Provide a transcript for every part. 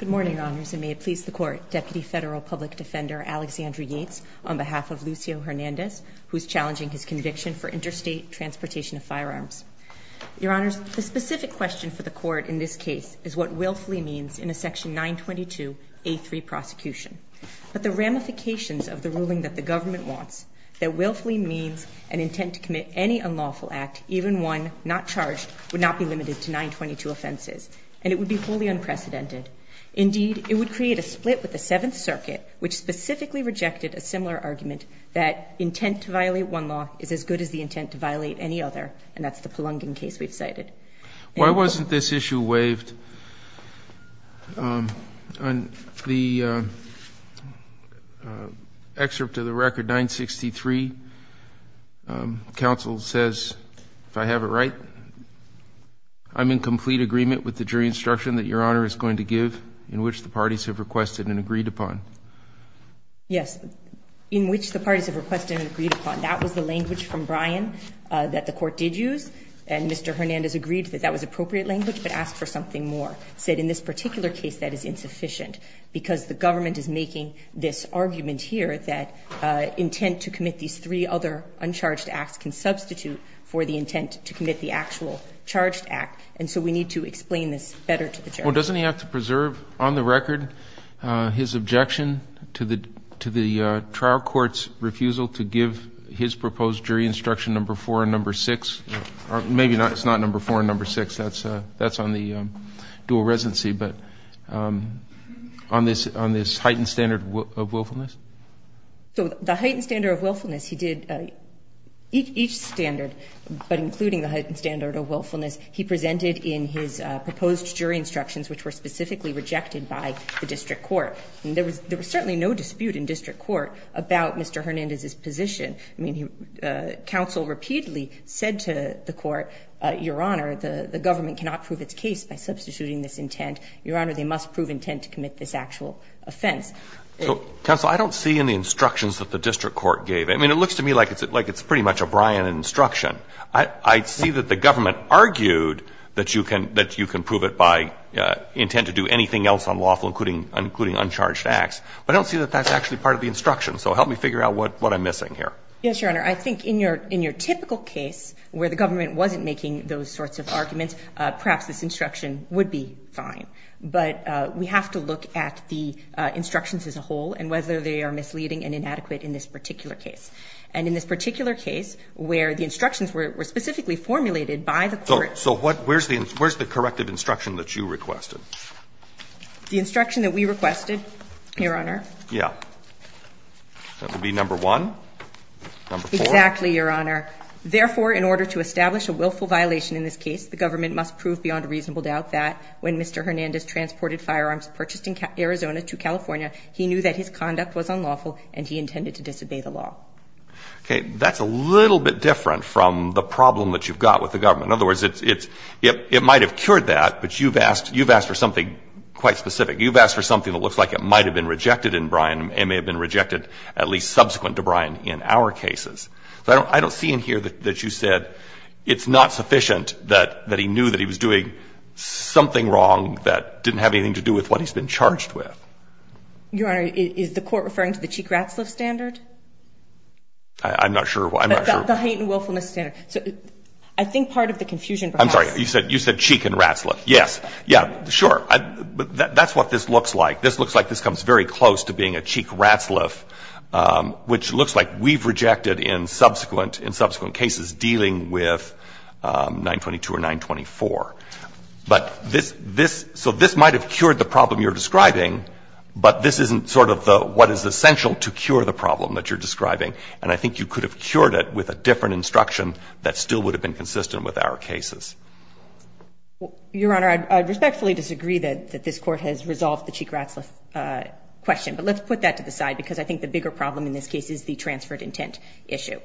Good morning, Your Honors, and may it please the Court, Deputy Federal Public Defender Alexandra Yates, on behalf of Lucio Hernandez, who is challenging his conviction for interstate transportation of firearms. Your Honors, the specific question for the Court in this case is what willfully means in a section 922A3 prosecution. But the ramifications of the ruling that the government wants, that willfully means an intent to commit any unlawful act, even one, not charged, would not be limited to 922 offenses, and it would be wholly unprecedented. Indeed, it would create a split with the Seventh Circuit, which specifically rejected a similar argument that intent to violate one law is as good as the intent to violate any other, and that's the Pelungan case we've cited. Why wasn't this issue waived? On the excerpt of the record, 963, counsel says, if I have it right, I'm in complete agreement with the jury instruction that Your Honor is going to give, in which the parties have requested and agreed upon. Yes. In which the parties have requested and agreed upon. That was the language from Brian that the Court did use, and Mr. Hernandez agreed that that was appropriate language, but asked for something more. Said in this particular case, that is insufficient, because the government is making this argument here that intent to commit these three other uncharged acts can substitute for the intent to commit the actual charged act. And so we need to explain this better to the jury. Well, doesn't he have to preserve on the record his objection to the trial court's refusal to give his proposed jury instruction number four and number six? Maybe it's not number four and number six. That's on the dual residency, but on this heightened standard of willfulness? So the heightened standard of willfulness, he did each standard, but including the heightened standard of willfulness, he presented in his the district court. There was certainly no dispute in district court about Mr. Hernandez's position. I mean, counsel repeatedly said to the court, Your Honor, the government cannot prove its case by substituting this intent. Your Honor, they must prove intent to commit this actual offense. Counsel, I don't see in the instructions that the district court gave. I mean, it looks to me like it's pretty much a Brian instruction. I see that the government argued that you can prove it by intent to do anything else unlawful, including uncharged acts, but I don't see that that's actually part of the instruction. So help me figure out what I'm missing here. Yes, Your Honor. I think in your typical case where the government wasn't making those sorts of arguments, perhaps this instruction would be fine. But we have to look at the instructions as a whole and whether they are misleading and inadequate in this particular case. And in this particular case where the instructions were specifically formulated by the court. So where's the corrected instruction that you requested? The instruction that we requested, Your Honor. Yeah. That would be number one. Exactly, Your Honor. Therefore, in order to establish a willful violation in this case, the government must prove beyond reasonable doubt that when Mr. Hernandez transported firearms purchased in Arizona to California, he knew that his conduct was unlawful and he intended to disobey the law. Okay. That's a little bit different from the problem that you've got with the government. In other words, it might have cured that, but you've asked for something quite specific. You've asked for something that looks like it might have been rejected in Brian and may have been rejected at least subsequent to Brian in our cases. So I don't see in here that you said it's not sufficient that he knew that he was doing something wrong that didn't have anything to do with what he's been charged with. Your Honor, is the court referring to the Cheek Ratsliff standard? I'm not sure. The hate and willfulness standard. I think part of the confusion perhaps I'm sorry. You said Cheek and Ratsliff. Yes. Yeah. Sure. That's what this looks like. This looks like this comes very close to being a Cheek Ratsliff, which looks like we've rejected in subsequent cases dealing with 922 or 924. But this, so this might have cured the problem you're describing, but this isn't sort of the what is essential to cure the problem that you're describing. And I think you could have cured it with a different instruction that still would have been consistent with our cases. Your Honor, I respectfully disagree that this court has resolved the Cheek Ratsliff question. But let's put that to the side because I think the bigger problem in this case is the transferred intent issue.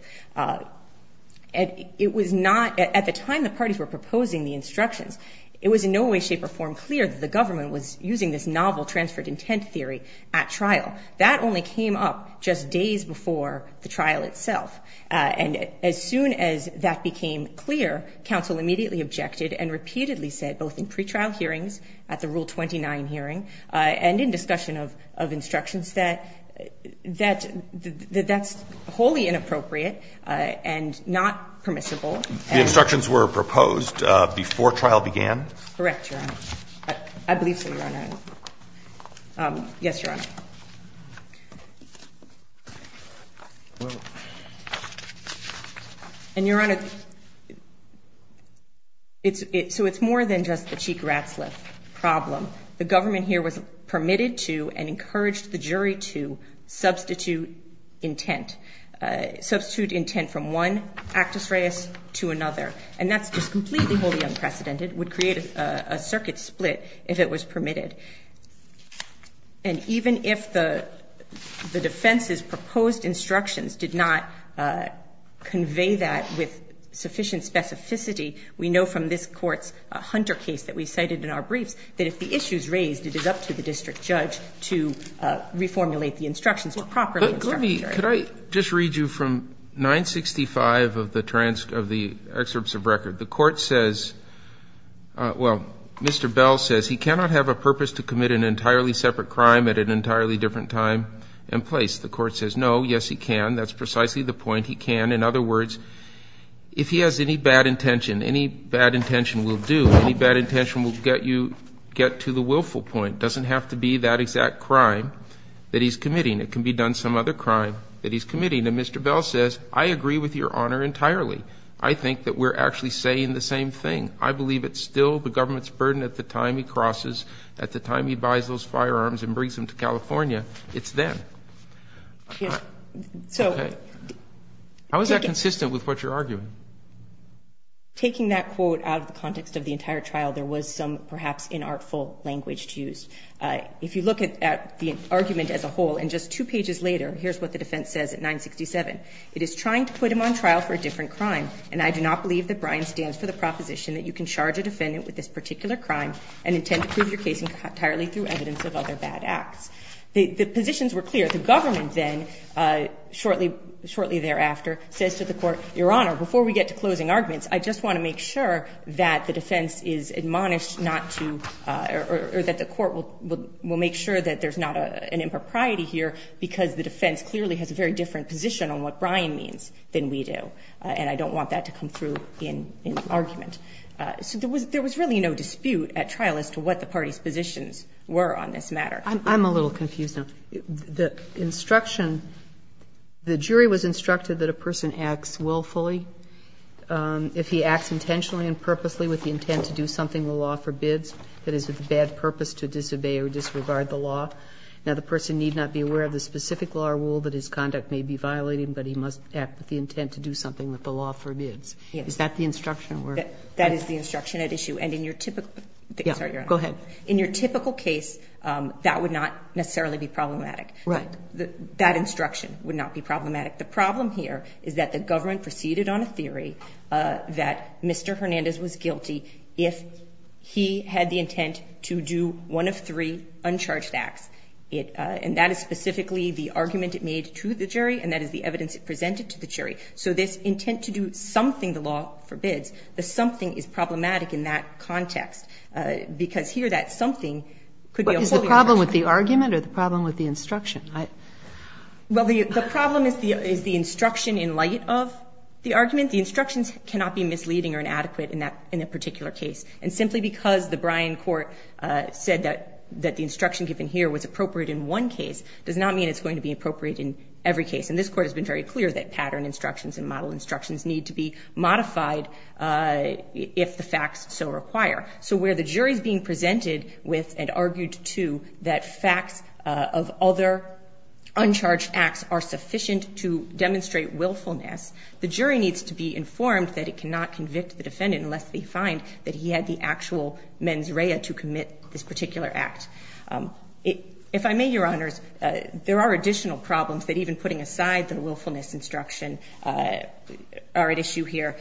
It was not at the time the parties were proposing the instructions, it was in no way, shape or form clear that the government was using this novel transferred intent theory at trial. That only came up just days before the trial itself. And as soon as that became clear, counsel immediately objected and repeatedly said, both in pretrial hearings at the Rule 29 hearing and in discussion of instructions, that that's wholly inappropriate and not permissible. The instructions were proposed before trial began? Correct, Your Honor. I believe so, Your Honor. Yes, Your Honor. And, Your Honor, so it's more than just the Cheek Ratsliff problem. The government here was permitted to and encouraged the jury to substitute intent, substitute intent from one actus reus to another. And that's just completely wholly unprecedented, would create a circuit split if it was permitted. And even if the defense's proposed instructions did not convey that with sufficient specificity, we know from this Court's Hunter case that we cited in our briefs, that if the issue is raised, it is up to the district judge to reformulate the instructions to properly instruct the jury. Could I just read you from 965 of the transcript, of the excerpts of record? The Court says, well, Mr. Bell says, he cannot have a purpose to commit an entirely separate crime at an entirely different time and place. The Court says, no, yes, he can. That's precisely the point. He can. In other words, if he has any bad intention, any bad intention will do. Any bad intention will get you get to the willful point. Doesn't have to be that he's committing. And Mr. Bell says, I agree with Your Honor entirely. I think that we're actually saying the same thing. I believe it's still the government's burden at the time he crosses, at the time he buys those firearms and brings them to California, it's then. So the question is, how is that consistent with what you're arguing? Taking that quote out of the context of the entire trial, there was some perhaps inartful language to use. If you look at the argument as a whole, and just two pages later, here's what the defense says at 967. It is trying to put him on trial for a different crime, and I do not believe that Bryan stands for the proposition that you can charge a defendant with this particular crime and intend to prove your case entirely through evidence of other bad acts. The positions were clear. The government then, shortly thereafter, says to the Court, Your Honor, before we get to closing arguments, I just want to make sure that the defense is admonished not to or that the Court will make sure that there's not an impropriety here because the defense clearly has a very different position on what Bryan means than we do, and I don't want that to come through in argument. So there was really no dispute at trial as to what the party's positions were on this matter. I'm a little confused now. The instruction, the jury was instructed that a person acts willfully if he acts intentionally and purposely with the intent to do something the law forbids, that is, with a bad purpose to disobey or disregard the law. Now, the person need not be aware of the specific law or rule that his conduct may be violating, but he must act with the intent to do something that the law forbids. Is that the instruction or? That is the instruction at issue. And in your typical case, that would not necessarily be problematic. Right. That instruction would not be problematic. The problem here is that the government proceeded on a theory that Mr. Hernandez was guilty if he had the intent to do one of three uncharged acts, and that is specifically the argument it made to the jury, and that is the evidence it presented to the jury. So this intent to do something the law forbids, the something is problematic in that context, because here that something could be a whole different. But is the problem with the argument or the problem with the instruction? Well, the problem is the instruction in light of the argument. The instructions cannot be misleading or inadequate in a particular case. And simply because the Bryan Court said that the instruction given here was appropriate in one case does not mean it's going to be appropriate in every case. And this Court has been very clear that pattern instructions and model instructions need to be modified if the facts so require. So where the jury is being presented with and argued to that facts of other uncharged acts are sufficient to demonstrate willfulness, the jury needs to be informed that it cannot convict the defendant unless they find that he had the actual mens rea to commit this particular act. If I may, Your Honors, there are additional problems that even putting aside the willfulness instruction are at issue here,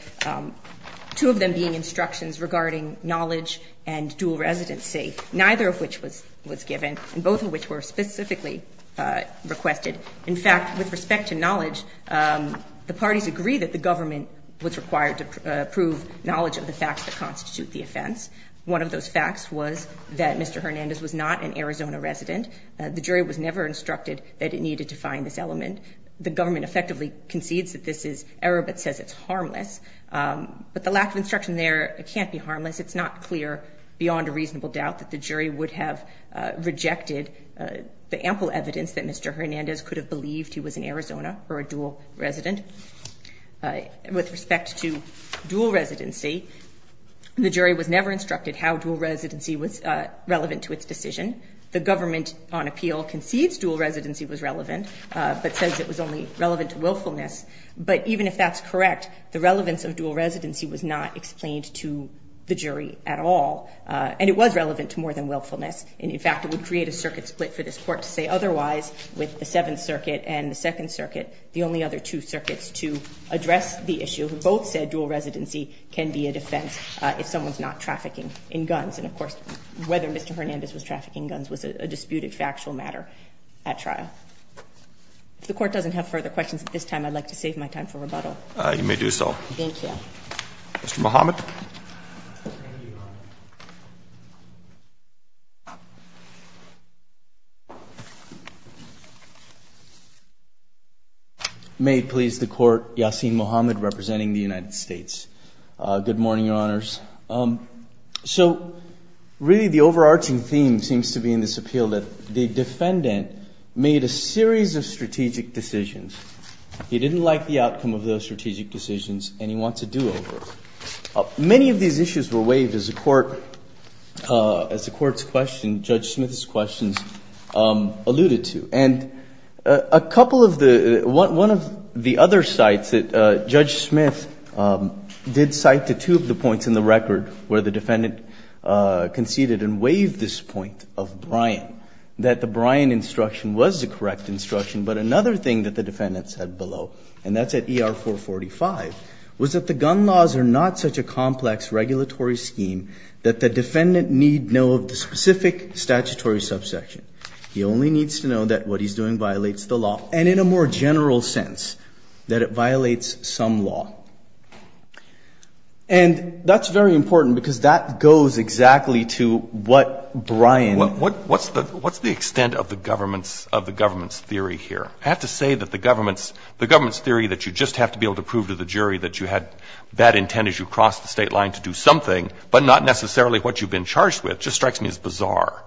two of them being instructions regarding knowledge and dual residency, neither of which was given, and both of which were specifically requested. In fact, with respect to knowledge, the parties agree that the government was required to prove knowledge of the facts that constitute the offense. One of those facts was that Mr. Hernandez was not an Arizona resident. The jury was never instructed that it needed to find this element. The government effectively concedes that this is error but says it's harmless. But the lack of instruction there can't be harmless. It's not clear beyond a reasonable doubt that the jury would have rejected the ample evidence that Mr. Hernandez could have believed he was an Arizona or a dual resident. With respect to dual residency, the jury was never instructed how dual residency was relevant to its decision. The government on appeal concedes dual residency was relevant but says it was only relevant to willfulness. But even if that's correct, the relevance of dual residency was not explained to the jury at all, and it was relevant to more than willfulness, and in fact, it would create a circuit split for this Court to say otherwise with the Seventh Circuit and the Second Circuit, the only other two circuits to address the issue who both said dual residency can be a defense if someone's not trafficking in guns, and of course, whether Mr. Hernandez was trafficking in guns was a disputed factual matter at trial. If the Court doesn't have further questions at this time, I'd like to save my time for rebuttal. You may do so. Thank you. Mr. Muhammad? Thank you, Your Honor. May it please the Court, Yasin Muhammad representing the United States. Good morning, Your Honors. So really, the overarching theme seems to be in this appeal that the defendant made a series of strategic decisions. He didn't like the outcome of those strategic decisions, and he wants a do-over. Many of these issues were waived as the Court's question, Judge Smith's questions alluded to. And a couple of the – one of the other sites that Judge Smith did cite to two of the points in the record where the defendant conceded and waived this point of Bryan, that the Bryan instruction was the correct instruction. But another thing that the defendant said below, and that's at ER 445, was that the gun laws are not such a complex regulatory scheme that the defendant need know of the specific statutory subsection. He only needs to know that what he's doing violates the law, and in a more general sense, that it violates some law. And that's very important, because that goes exactly to what Bryan – What's the – what's the extent of the government's – of the government's theory here? I have to say that the government's – the government's theory that you just have to be able to prove to the jury that you had bad intent as you crossed the State line to do something, but not necessarily what you've been charged with, just strikes me as bizarre.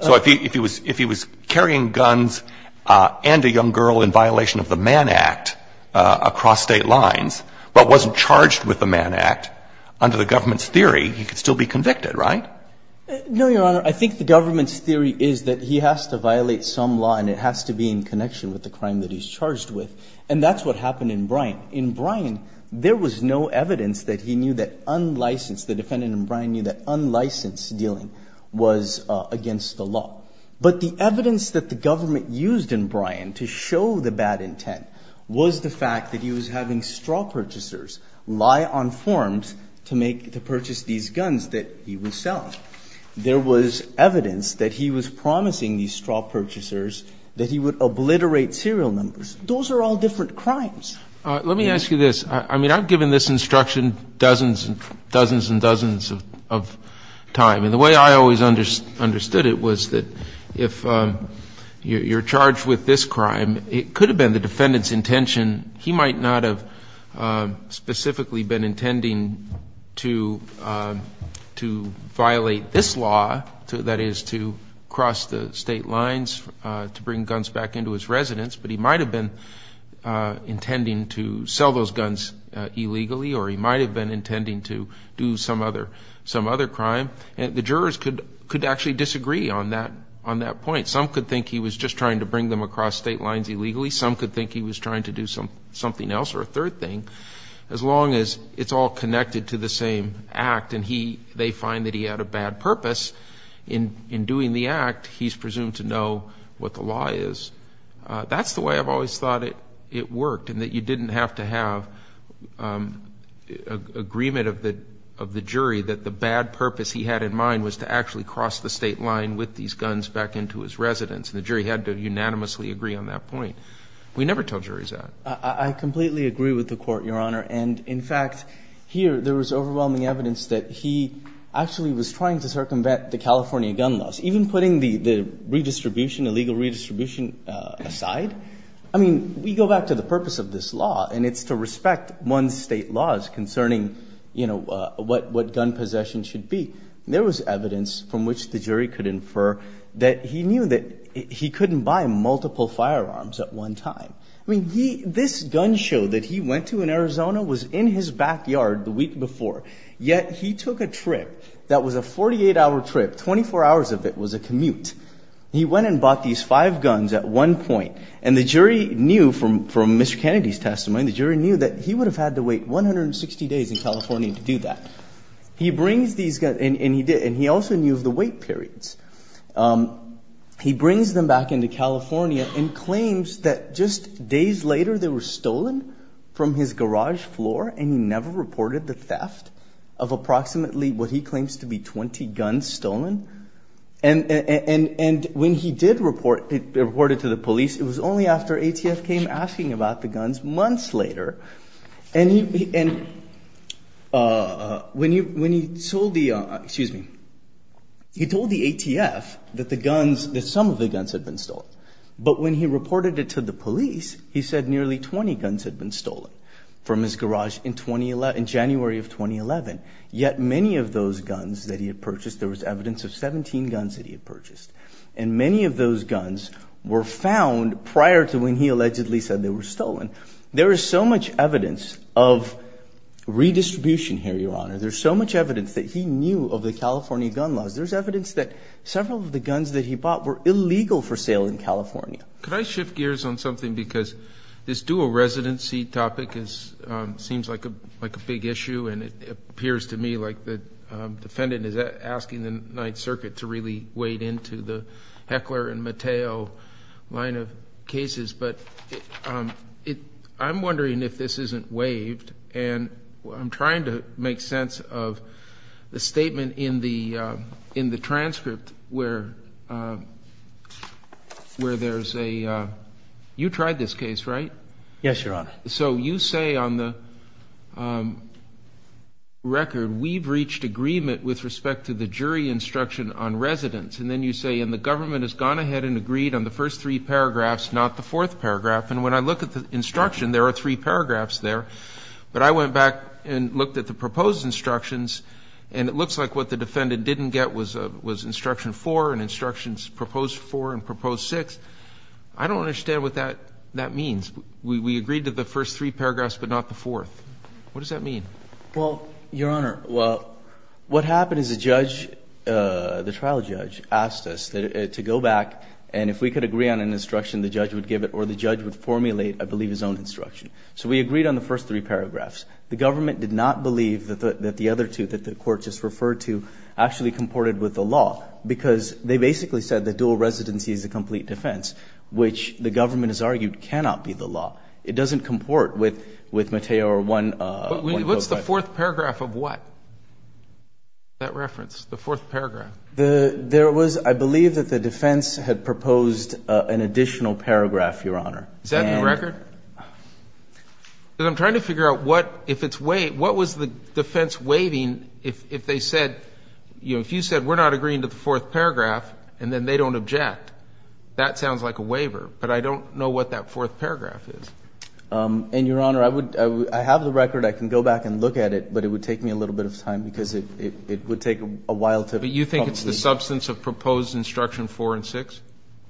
So if he was – if he was carrying guns and a young girl in violation of the Mann Act across State lines, but wasn't charged with the Mann Act, under the government's theory, he could still be convicted, right? No, Your Honor. I think the government's theory is that he has to violate some law and it has to be in connection with the crime that he's charged with. And that's what happened in Bryan. In Bryan, there was no evidence that he knew that unlicensed – the defendant in Bryan knew that unlicensed dealing was against the law. But the evidence that the government used in Bryan to show the bad intent was the fact that he was having straw purchasers lie on forms to make – to purchase these guns that he would sell. There was evidence that he was promising these straw purchasers that he would obliterate serial numbers. Those are all different crimes. Let me ask you this. I mean, I've given this instruction dozens and – dozens and dozens of time. And the way I always understood it was that if you're charged with this crime, it could have been the defendant's intention. He might not have specifically been intending to – to violate this law, that is, to cross the state lines to bring guns back into his residence, but he might have been intending to sell those guns illegally or he might have been intending to do some other – some other crime. And the jurors could – could actually disagree on that – on that point. Some could think he was just trying to bring them across state lines illegally. Some could think he was trying to do some – something else or a third thing. As long as it's all connected to the same act and he – they find that he had a bad purpose in – in doing the act, he's presumed to know what the law is. That's the way I've always thought it – it worked, in that you didn't have to have agreement of the – of the jury that the bad purpose he had in mind was to actually cross the state line with these guns back into his residence. And the jury had to unanimously agree on that point. We never tell juries that. I completely agree with the Court, Your Honor. And, in fact, here there was overwhelming evidence that he actually was trying to circumvent the California gun laws, even putting the – the redistribution, illegal redistribution aside. I mean, we go back to the purpose of this law and it's to respect one's state laws concerning, you know, what – what gun possession should be. There was evidence from which the jury could infer that he knew that he couldn't buy multiple firearms at one time. I mean, he – this gun show that he went to in Arizona was in his backyard the week before, yet he took a trip that was a 48-hour trip, 24 hours of it was a commute. He went and bought these five guns at one point. And the jury knew from – from Mr. Kennedy's testimony, the jury knew that he would have had to wait 160 days in California to do that. He brings these – and he did – and he also knew of the wait periods. He brings them back into California and claims that just days later they were stolen from his garage floor and he never reported the theft of approximately what he claims to be 20 guns stolen. And when he did report – reported to the police, it was only after ATF came asking about the guns months later. And he – and when he – when he told the – excuse me. He told the ATF that the guns – that some of the guns had been stolen. But when he reported it to the police, he said nearly 20 guns had been stolen from his garage in 2011 – in January of 2011. Yet many of those guns that he had purchased, there was evidence of 17 guns that he had purchased. And many of those guns were found prior to when he allegedly said they were stolen. There is so much evidence of redistribution here, Your Honor. There's so much evidence that he knew of the California gun laws. There's evidence that several of the guns that he bought were illegal for sale in California. Could I shift gears on something? Because this dual residency topic is – seems like a – like a big issue and it appears to me like the defendant is asking the Ninth Circuit to really wade into the Heckler and Mateo line of cases. But it – I'm wondering if this isn't waved. And I'm trying to make sense of the statement in the transcript where there's a – you tried this case, right? Yes, Your Honor. So you say on the record, we've reached agreement with respect to the jury instruction on residence. And then you say, and the government has gone ahead and agreed on the first three paragraphs, not the fourth paragraph. And when I look at the instruction, there are three paragraphs there. But I went back and looked at the proposed instructions and it looks like what the defendant didn't get was instruction four and instructions proposed four and proposed six. I don't understand what that means. We agreed to the first three paragraphs but not the fourth. What does that mean? Well, Your Honor, what happened is the judge, the trial judge, asked us to go back and if we could agree on an instruction, the judge would give it or the judge would formulate, I believe, his own instruction. So we agreed on the first three paragraphs. The government did not believe that the other two that the court just referred to actually comported with the law because they basically said that dual residency is a complete defense, which the government has argued cannot be the law. It doesn't comport with Mateo or one – But what's the fourth paragraph of what, that reference, the fourth paragraph? There was – I believe that the defense had proposed an additional paragraph, Your Honor. Is that the record? Because I'm trying to figure out what if it's – what was the defense waiving if they said – you know, if you said we're not agreeing to the fourth paragraph and then they don't object, that sounds like a waiver, but I don't know what that fourth paragraph is. And, Your Honor, I would – I have the record. I can go back and look at it, but it would take me a little bit of time because it would take a while to – But you think it's the substance of proposed instruction four and six?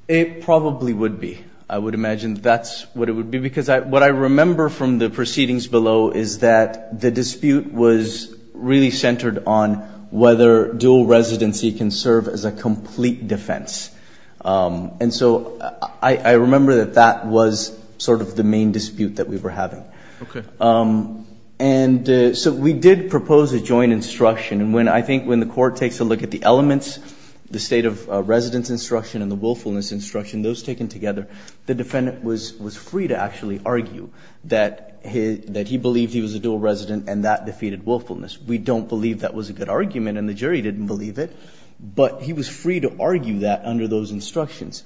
It probably would be. I would imagine that's what it would be because what I remember from the proceedings below is that the dispute was really centered on whether dual residency can serve as a complete defense. And so I remember that that was sort of the main dispute that we were having. Okay. And so we did propose a joint instruction. And when – I think when the Court takes a look at the elements, the state of residence instruction and the willfulness instruction, those taken together, the defendant was free to actually argue that he believed he was a dual resident and that defeated willfulness. We don't believe that was a good argument and the jury didn't believe it, but he was free to argue that under those instructions.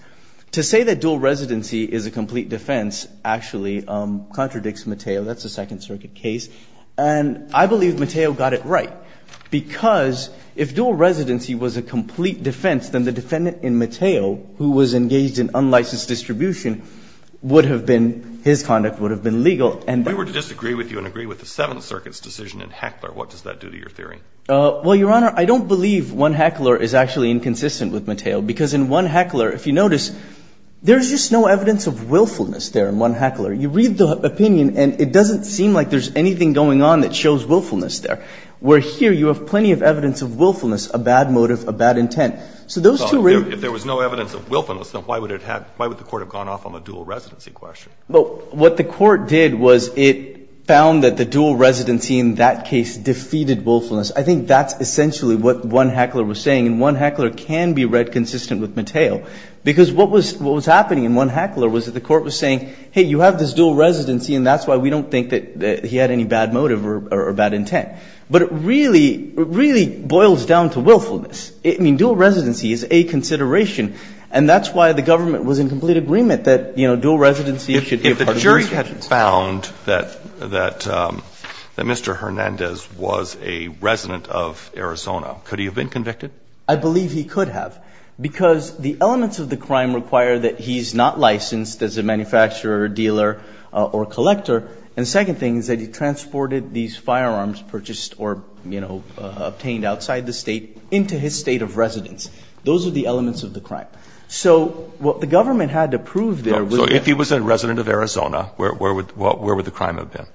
To say that dual residency is a complete defense actually contradicts Mateo. That's a Second Circuit case. And I believe Mateo got it right because if dual residency was a complete defense, then the defendant in Mateo, who was engaged in unlicensed distribution, would have been – his conduct would have been legal. We were to disagree with you and agree with the Seventh Circuit's decision in Heckler. What does that do to your theory? Well, Your Honor, I don't believe 1 Heckler is actually inconsistent with Mateo because in 1 Heckler, if you notice, there's just no evidence of willfulness there in 1 Heckler. You read the opinion and it doesn't seem like there's anything going on that shows willfulness there, where here you have plenty of evidence of willfulness, a bad motive, a bad intent. So those two really – Well, if there was no evidence of willfulness, then why would it have – why would the Court have gone off on the dual residency question? Well, what the Court did was it found that the dual residency in that case defeated willfulness. I think that's essentially what 1 Heckler was saying. And 1 Heckler can be read consistent with Mateo because what was happening in 1 Heckler was that the Court was saying, hey, you have this dual residency and that's why we don't think that he had any bad motive or bad intent. But it really – it really boils down to willfulness. I mean, dual residency is a consideration, and that's why the government was in complete agreement that, you know, dual residency should be a part of the jurisdiction. If the jury had found that Mr. Hernandez was a resident of Arizona, could he have been convicted? I believe he could have because the elements of the crime require that he's not licensed as a manufacturer, dealer, or collector. And the second thing is that he transported these firearms purchased or, you know, obtained outside the State into his State of residence. Those are the elements of the crime. So what the government had to prove there was that – So if he was a resident of Arizona, where would – where would the crime have been?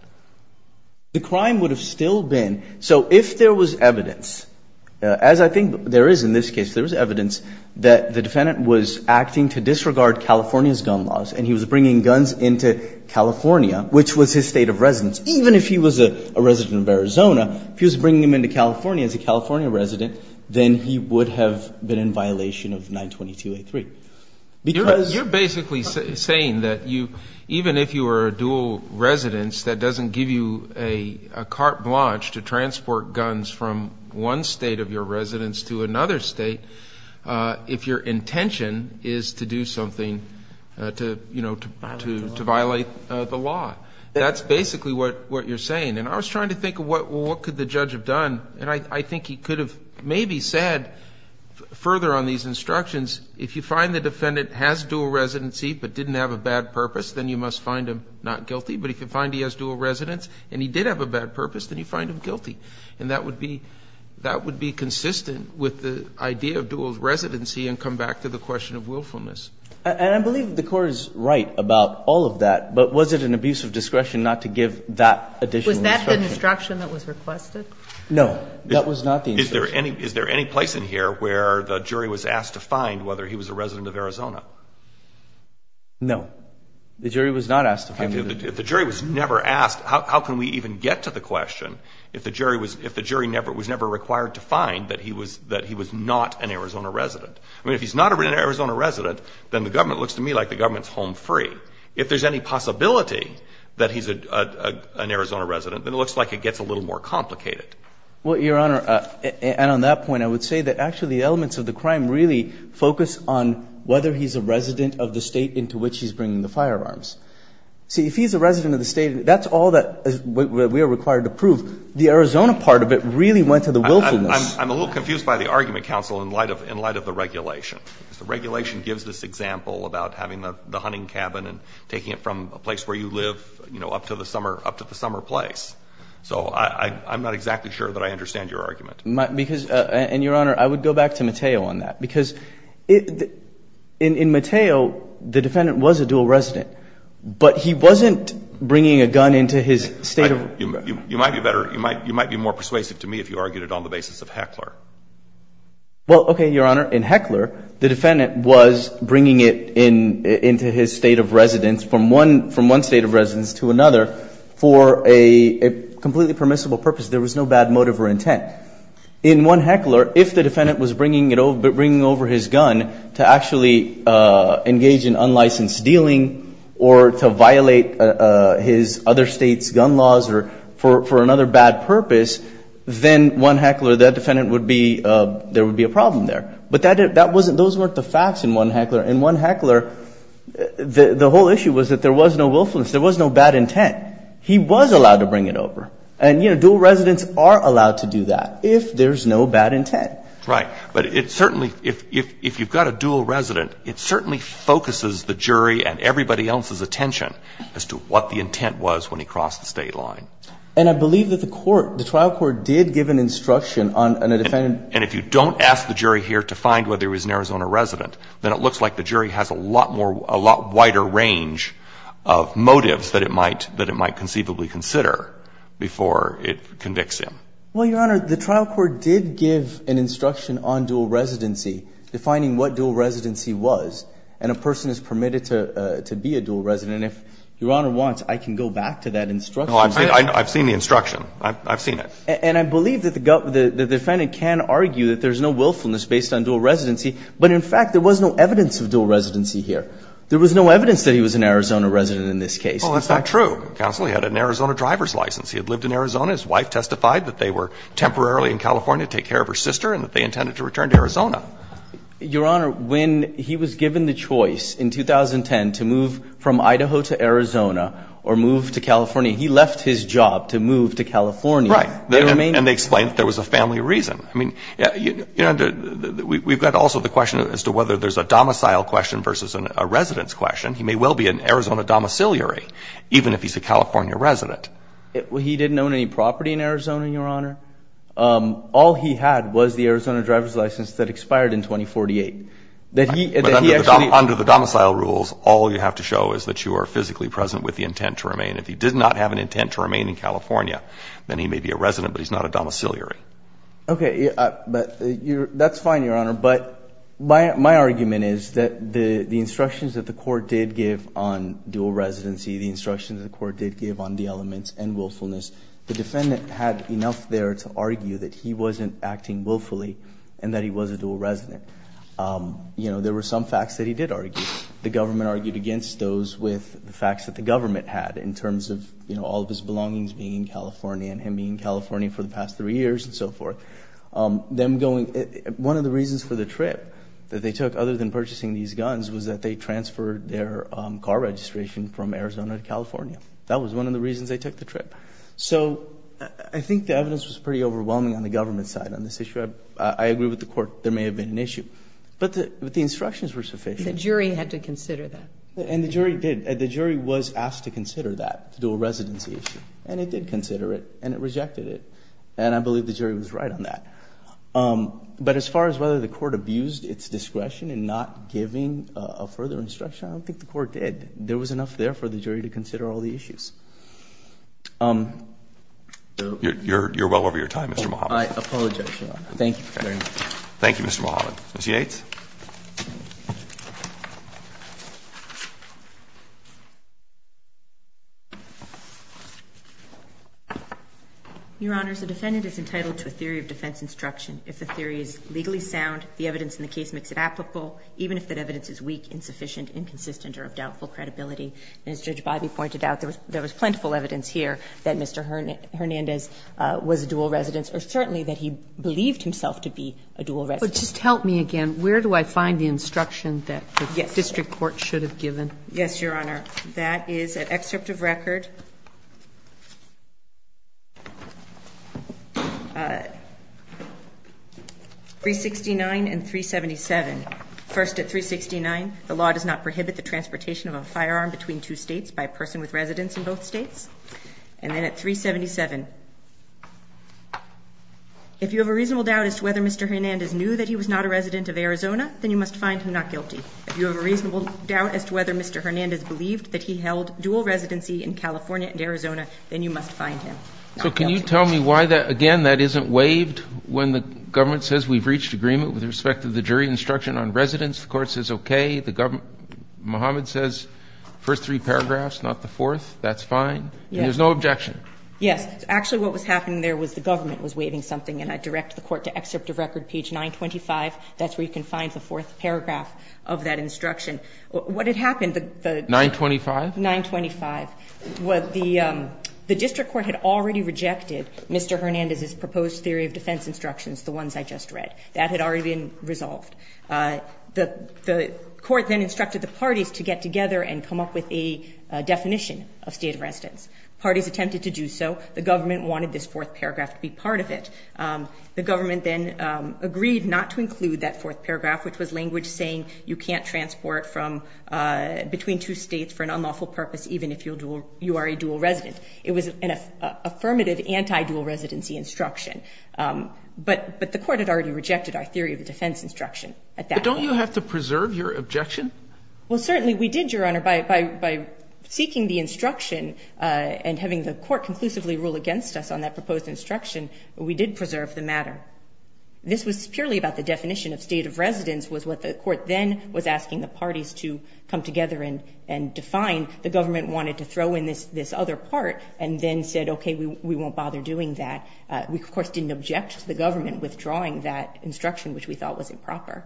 The crime would have still been – so if there was evidence, as I think there is in this case, there was evidence that the defendant was acting to disregard California's gun laws, and he was bringing guns into California, which was his State of residence, even if he was a resident of Arizona, if he was bringing them into California as a California resident, then he would have been in violation of 922-A3, because – You're basically saying that you – even if you were a dual residence, that doesn't give you a carte blanche to transport guns from one State of your residence to another State if your intention is to do something to, you know, to violate the law. That's basically what you're saying. And I was trying to think of what could the judge have done, and I think he could have maybe said further on these instructions, if you find the defendant has dual residency but didn't have a bad purpose, then you must find him not guilty, but if you find he has dual residence and he did have a bad purpose, then you find him guilty. And that would be – that would be consistent with the idea of dual residency and come back to the question of willfulness. And I believe the Court is right about all of that, but was it an abuse of discretion not to give that additional instruction? Was that the instruction that was requested? No, that was not the instruction. Is there any place in here where the jury was asked to find whether he was a resident No. The jury was not asked to find whether he was a resident of Arizona. If the jury was never asked, how can we even get to the question if the jury was – if the jury never – was never required to find that he was – that he was not an Arizona resident? I mean, if he's not an Arizona resident, then the government looks to me like the government's home free. If there's any possibility that he's an Arizona resident, then it looks like it gets a little more complicated. Well, Your Honor, and on that point, I would say that actually the elements of the crime really focus on whether he's a resident of the state into which he's bringing the firearms. See, if he's a resident of the state, that's all that we are required to prove. The Arizona part of it really went to the willfulness. I'm a little confused by the argument, counsel, in light of – in light of the regulation. The regulation gives this example about having the hunting cabin and taking it from a place where you live, you know, up to the summer – up to the summer place. So I'm not exactly sure that I understand your argument. Because – and, Your Honor, I would go back to Mateo on that. Because in Mateo, the defendant was a dual resident. But he wasn't bringing a gun into his state of – You might be better – you might be more persuasive to me if you argued it on the basis of Heckler. Well, okay, Your Honor. In Heckler, the defendant was bringing it into his state of residence from one – from one state of residence to another for a completely permissible purpose. There was no bad motive or intent. In 1 Heckler, if the defendant was bringing it over – bringing over his gun to actually engage in unlicensed dealing or to violate his other state's gun laws or for another bad purpose, then 1 Heckler, that defendant would be – there would be a problem there. But that wasn't – those weren't the facts in 1 Heckler. In 1 Heckler, the whole issue was that there was no willfulness. There was no bad intent. He was allowed to bring it over. And, you know, dual residents are allowed to do that if there's no bad intent. Right. But it certainly – if you've got a dual resident, it certainly focuses the jury and everybody else's attention as to what the intent was when he crossed the state line. And I believe that the court – the trial court did give an instruction on a defendant – And if you don't ask the jury here to find whether he was an Arizona resident, then it looks like the jury has a lot more – a lot wider range of motives that it might conceivably consider before it convicts him. Well, Your Honor, the trial court did give an instruction on dual residency defining what dual residency was. And a person is permitted to be a dual resident. And if Your Honor wants, I can go back to that instruction. No, I've seen the instruction. I've seen it. And I believe that the defendant can argue that there's no willfulness based on dual residency. But, in fact, there was no evidence of dual residency here. There was no evidence that he was an Arizona resident in this case. Well, that's not true. Counsel, he had an Arizona driver's license. He had lived in Arizona. His wife testified that they were temporarily in California to take care of her sister and that they intended to return to Arizona. Your Honor, when he was given the choice in 2010 to move from Idaho to Arizona or move to California, he left his job to move to California. Right. And they explained that there was a family reason. I mean, you know, we've got also the question as to whether there's a domicile question versus a resident's question. He may well be an Arizona domiciliary even if he's a California resident. He didn't own any property in Arizona, Your Honor. All he had was the Arizona driver's license that expired in 2048. Under the domicile rules, all you have to show is that you are physically present with the intent to remain. If he did not have an intent to remain in California, then he may be a resident but he's not a domiciliary. Okay. That's fine, Your Honor. But my argument is that the instructions that the court did give on dual residency, the instructions the court did give on the elements and willfulness, the defendant had enough there to argue that he wasn't acting willfully and that he was a dual resident. You know, there were some facts that he did argue. The government argued against those with the facts that the government had in terms of, you know, all of his belongings being in California and him being in California for the past three years and so forth. One of the reasons for the trip that they took other than purchasing these guns was that they transferred their car registration from Arizona to California. That was one of the reasons they took the trip. So I think the evidence was pretty overwhelming on the government side on this issue. I agree with the court there may have been an issue. But the instructions were sufficient. The jury had to consider that. And the jury did. The jury was asked to consider that, the dual residency issue. And it did consider it and it rejected it. And I believe the jury was right on that. But as far as whether the court abused its discretion in not giving a further instruction, I don't think the court did. There was enough there for the jury to consider all the issues. You're well over your time, Mr. Mohamed. I apologize, Your Honor. Thank you, Mr. Mohamed. Ms. Yates. Your Honor, the defendant is entitled to a theory of defense instruction. If the theory is legally sound, the evidence in the case makes it applicable even if that evidence is weak, insufficient, inconsistent or of doubtful credibility. And as Judge Biby pointed out, there was plentiful evidence here that Mr. Hernandez was a dual residence or certainly that he believed himself to be a The evidence is not in the case. The evidence is not in the case. Where do I find the instruction that the district court should have given? Yes, Your Honor. That is an excerpt of record. 369 and 377. First at 369, the law does not prohibit the transportation of a firearm between two states by a person with residence in both states. And then at 377. If you have a reasonable doubt as to whether Mr. Hernandez knew that he was not a resident of Arizona, then you must find him not guilty. If you have a reasonable doubt as to whether Mr. Hernandez believed that he held dual residency in California and Arizona, then you must find him not guilty. So can you tell me why that, again, that isn't waived when the government says we've reached agreement with respect to the jury instruction on residence? The court says okay. The government, Mohamed says first three paragraphs, not the fourth. That's fine? Yes. And there's no objection? Yes. Actually what was happening there was the government was waiving something and I direct the court to excerpt of record page 925. That's where you can find the fourth paragraph of that instruction. What had happened? 925? 925. The district court had already rejected Mr. Hernandez's proposed theory of defense instructions, the ones I just read. That had already been resolved. The court then instructed the parties to get together and come up with a definition of state of residence. Parties attempted to do so. The government wanted this fourth paragraph to be part of it. The government then agreed not to include that fourth paragraph, which was language saying you can't transport from between two states for an unlawful purpose even if you are a dual resident. It was an affirmative anti-dual residency instruction. But the court had already rejected our theory of defense instruction at that point. But don't you have to preserve your objection? Well, certainly we did, Your Honor, by seeking the instruction and having the committee rule against us on that proposed instruction. But we did preserve the matter. This was purely about the definition of state of residence was what the court then was asking the parties to come together and define. The government wanted to throw in this other part and then said, okay, we won't bother doing that. We, of course, didn't object to the government withdrawing that instruction, which we thought was improper.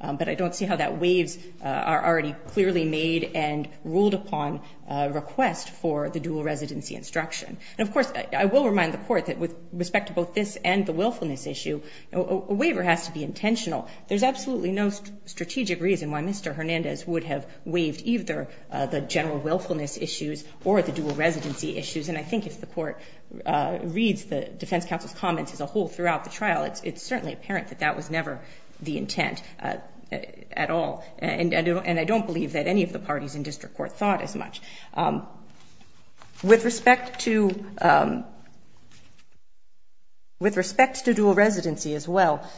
But I don't see how that waves are already clearly made and ruled upon request for the dual residency instruction. Of course, I will remind the court that with respect to both this and the willfulness issue, a waiver has to be intentional. There's absolutely no strategic reason why Mr. Hernandez would have waived either the general willfulness issues or the dual residency issues. And I think if the court reads the defense counsel's comments as a whole throughout the trial, it's certainly apparent that that was never the intent at all. And I don't believe that any of the parties in district court thought as much. With respect to dual residency as well,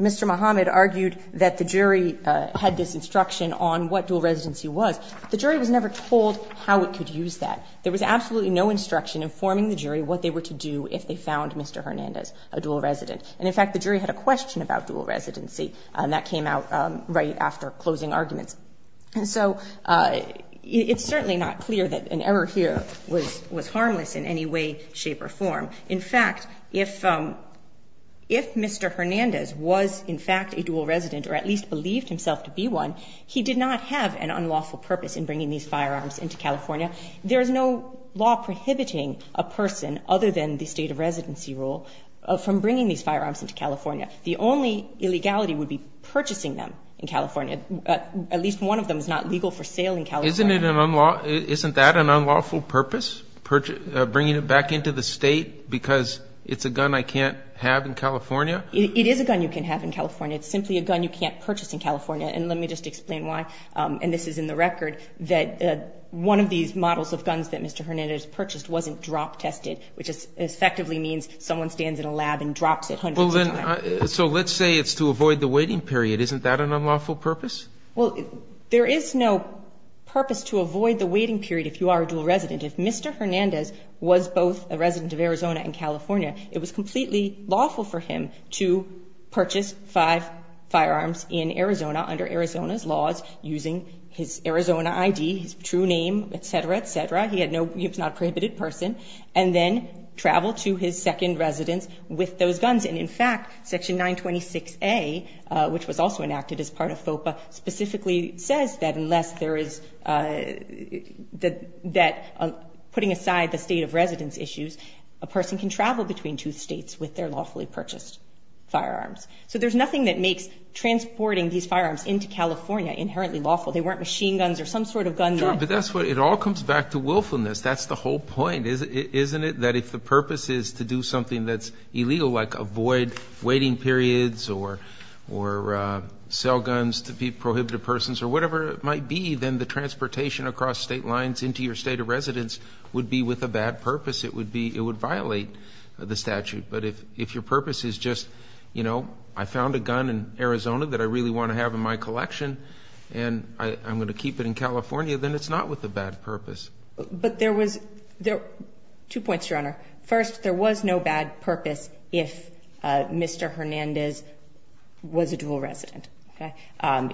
Mr. Muhammad argued that the jury had this instruction on what dual residency was. The jury was never told how it could use that. There was absolutely no instruction informing the jury what they were to do if they found Mr. Hernandez a dual resident. And, in fact, the jury had a question about dual residency, and that came out right after closing arguments. And so it's certainly not clear that an error here was harmless in any way, shape, or form. In fact, if Mr. Hernandez was, in fact, a dual resident or at least believed himself to be one, he did not have an unlawful purpose in bringing these firearms into California. There is no law prohibiting a person other than the state of residency rule from bringing these firearms into California. The only illegality would be purchasing them in California. At least one of them is not legal for sale in California. Isn't that an unlawful purpose, bringing it back into the state because it's a gun I can't have in California? It is a gun you can have in California. It's simply a gun you can't purchase in California. And let me just explain why. And this is in the record that one of these models of guns that Mr. Hernandez purchased wasn't drop tested, which effectively means someone stands in a lab and drops it hundreds of times. So let's say it's to avoid the waiting period. Isn't that an unlawful purpose? Well, there is no purpose to avoid the waiting period if you are a dual resident. If Mr. Hernandez was both a resident of Arizona and California, it was completely lawful for him to purchase five firearms in Arizona under Arizona's laws using his Arizona ID, his true name, et cetera, et cetera. He was not a prohibited person. And then travel to his second residence with those guns. And in fact, Section 926A, which was also enacted as part of FOPA, specifically says that unless there is that putting aside the state of residence issues, a person can travel between two states with their lawfully purchased firearms. So there's nothing that makes transporting these firearms into California inherently lawful. They weren't machine guns or some sort of gun. But that's what it all comes back to willfulness. That's the whole point, isn't it? That if the purpose is to do something that's illegal, like avoid waiting periods or sell guns to be prohibited persons or whatever it might be, then the transportation across state lines into your state of residence would be with a bad purpose. It would violate the statute. But if your purpose is just I found a gun in Arizona that I really want to have in my collection and I'm going to keep it in California, then it's not with a bad purpose. But there was two points, Your Honor. First, there was no bad purpose if Mr. Hernandez was a dual resident. Okay?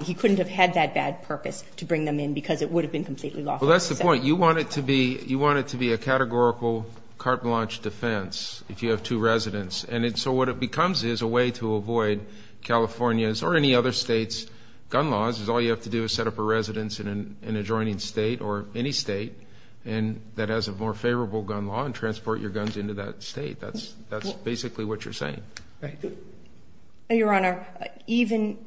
He couldn't have had that bad purpose to bring them in because it would have been completely lawful. Well, that's the point. You want it to be a categorical carte blanche defense if you have two residents. And so what it becomes is a way to avoid California's or any other state's gun laws is all you have to do is set up a residence in an adjoining state or any state that has a more favorable gun law and transport your guns into that state. That's basically what you're saying. Your Honor, even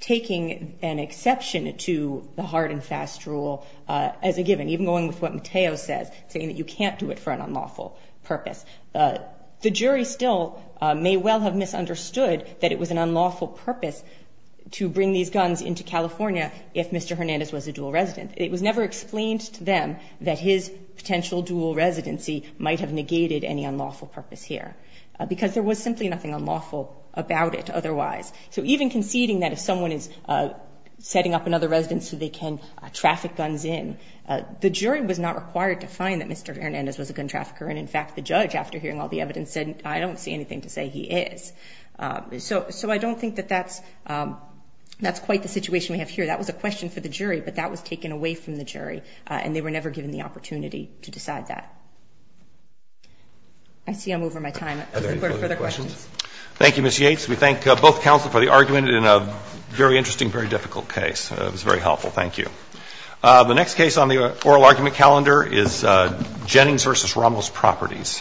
taking an exception to the hard and fast rule as a given, even going with what Mateo says, saying that you can't do it for an unlawful purpose, the jury still may well have misunderstood that it was an unlawful purpose to bring these guns into California if Mr. Hernandez was a dual resident. It was never explained to them that his potential dual residency might have negated any unlawful purpose here because there was simply nothing unlawful about it otherwise. So even conceding that if someone is setting up another residence so they can traffic guns in, the jury was not required to find that Mr. Hernandez was a gun trafficker. And, in fact, the judge, after hearing all the evidence, said, I don't see anything to say he is. So I don't think that that's quite the situation we have here. That was a question for the jury, but that was taken away from the jury, and they were never given the opportunity to decide that. I see I'm over my time. Are there any further questions? Thank you, Ms. Yates. We thank both counsel for the argument in a very interesting, very difficult case. It was very helpful. Thank you. The next case on the oral argument calendar is Jennings v. Rommel's Properties.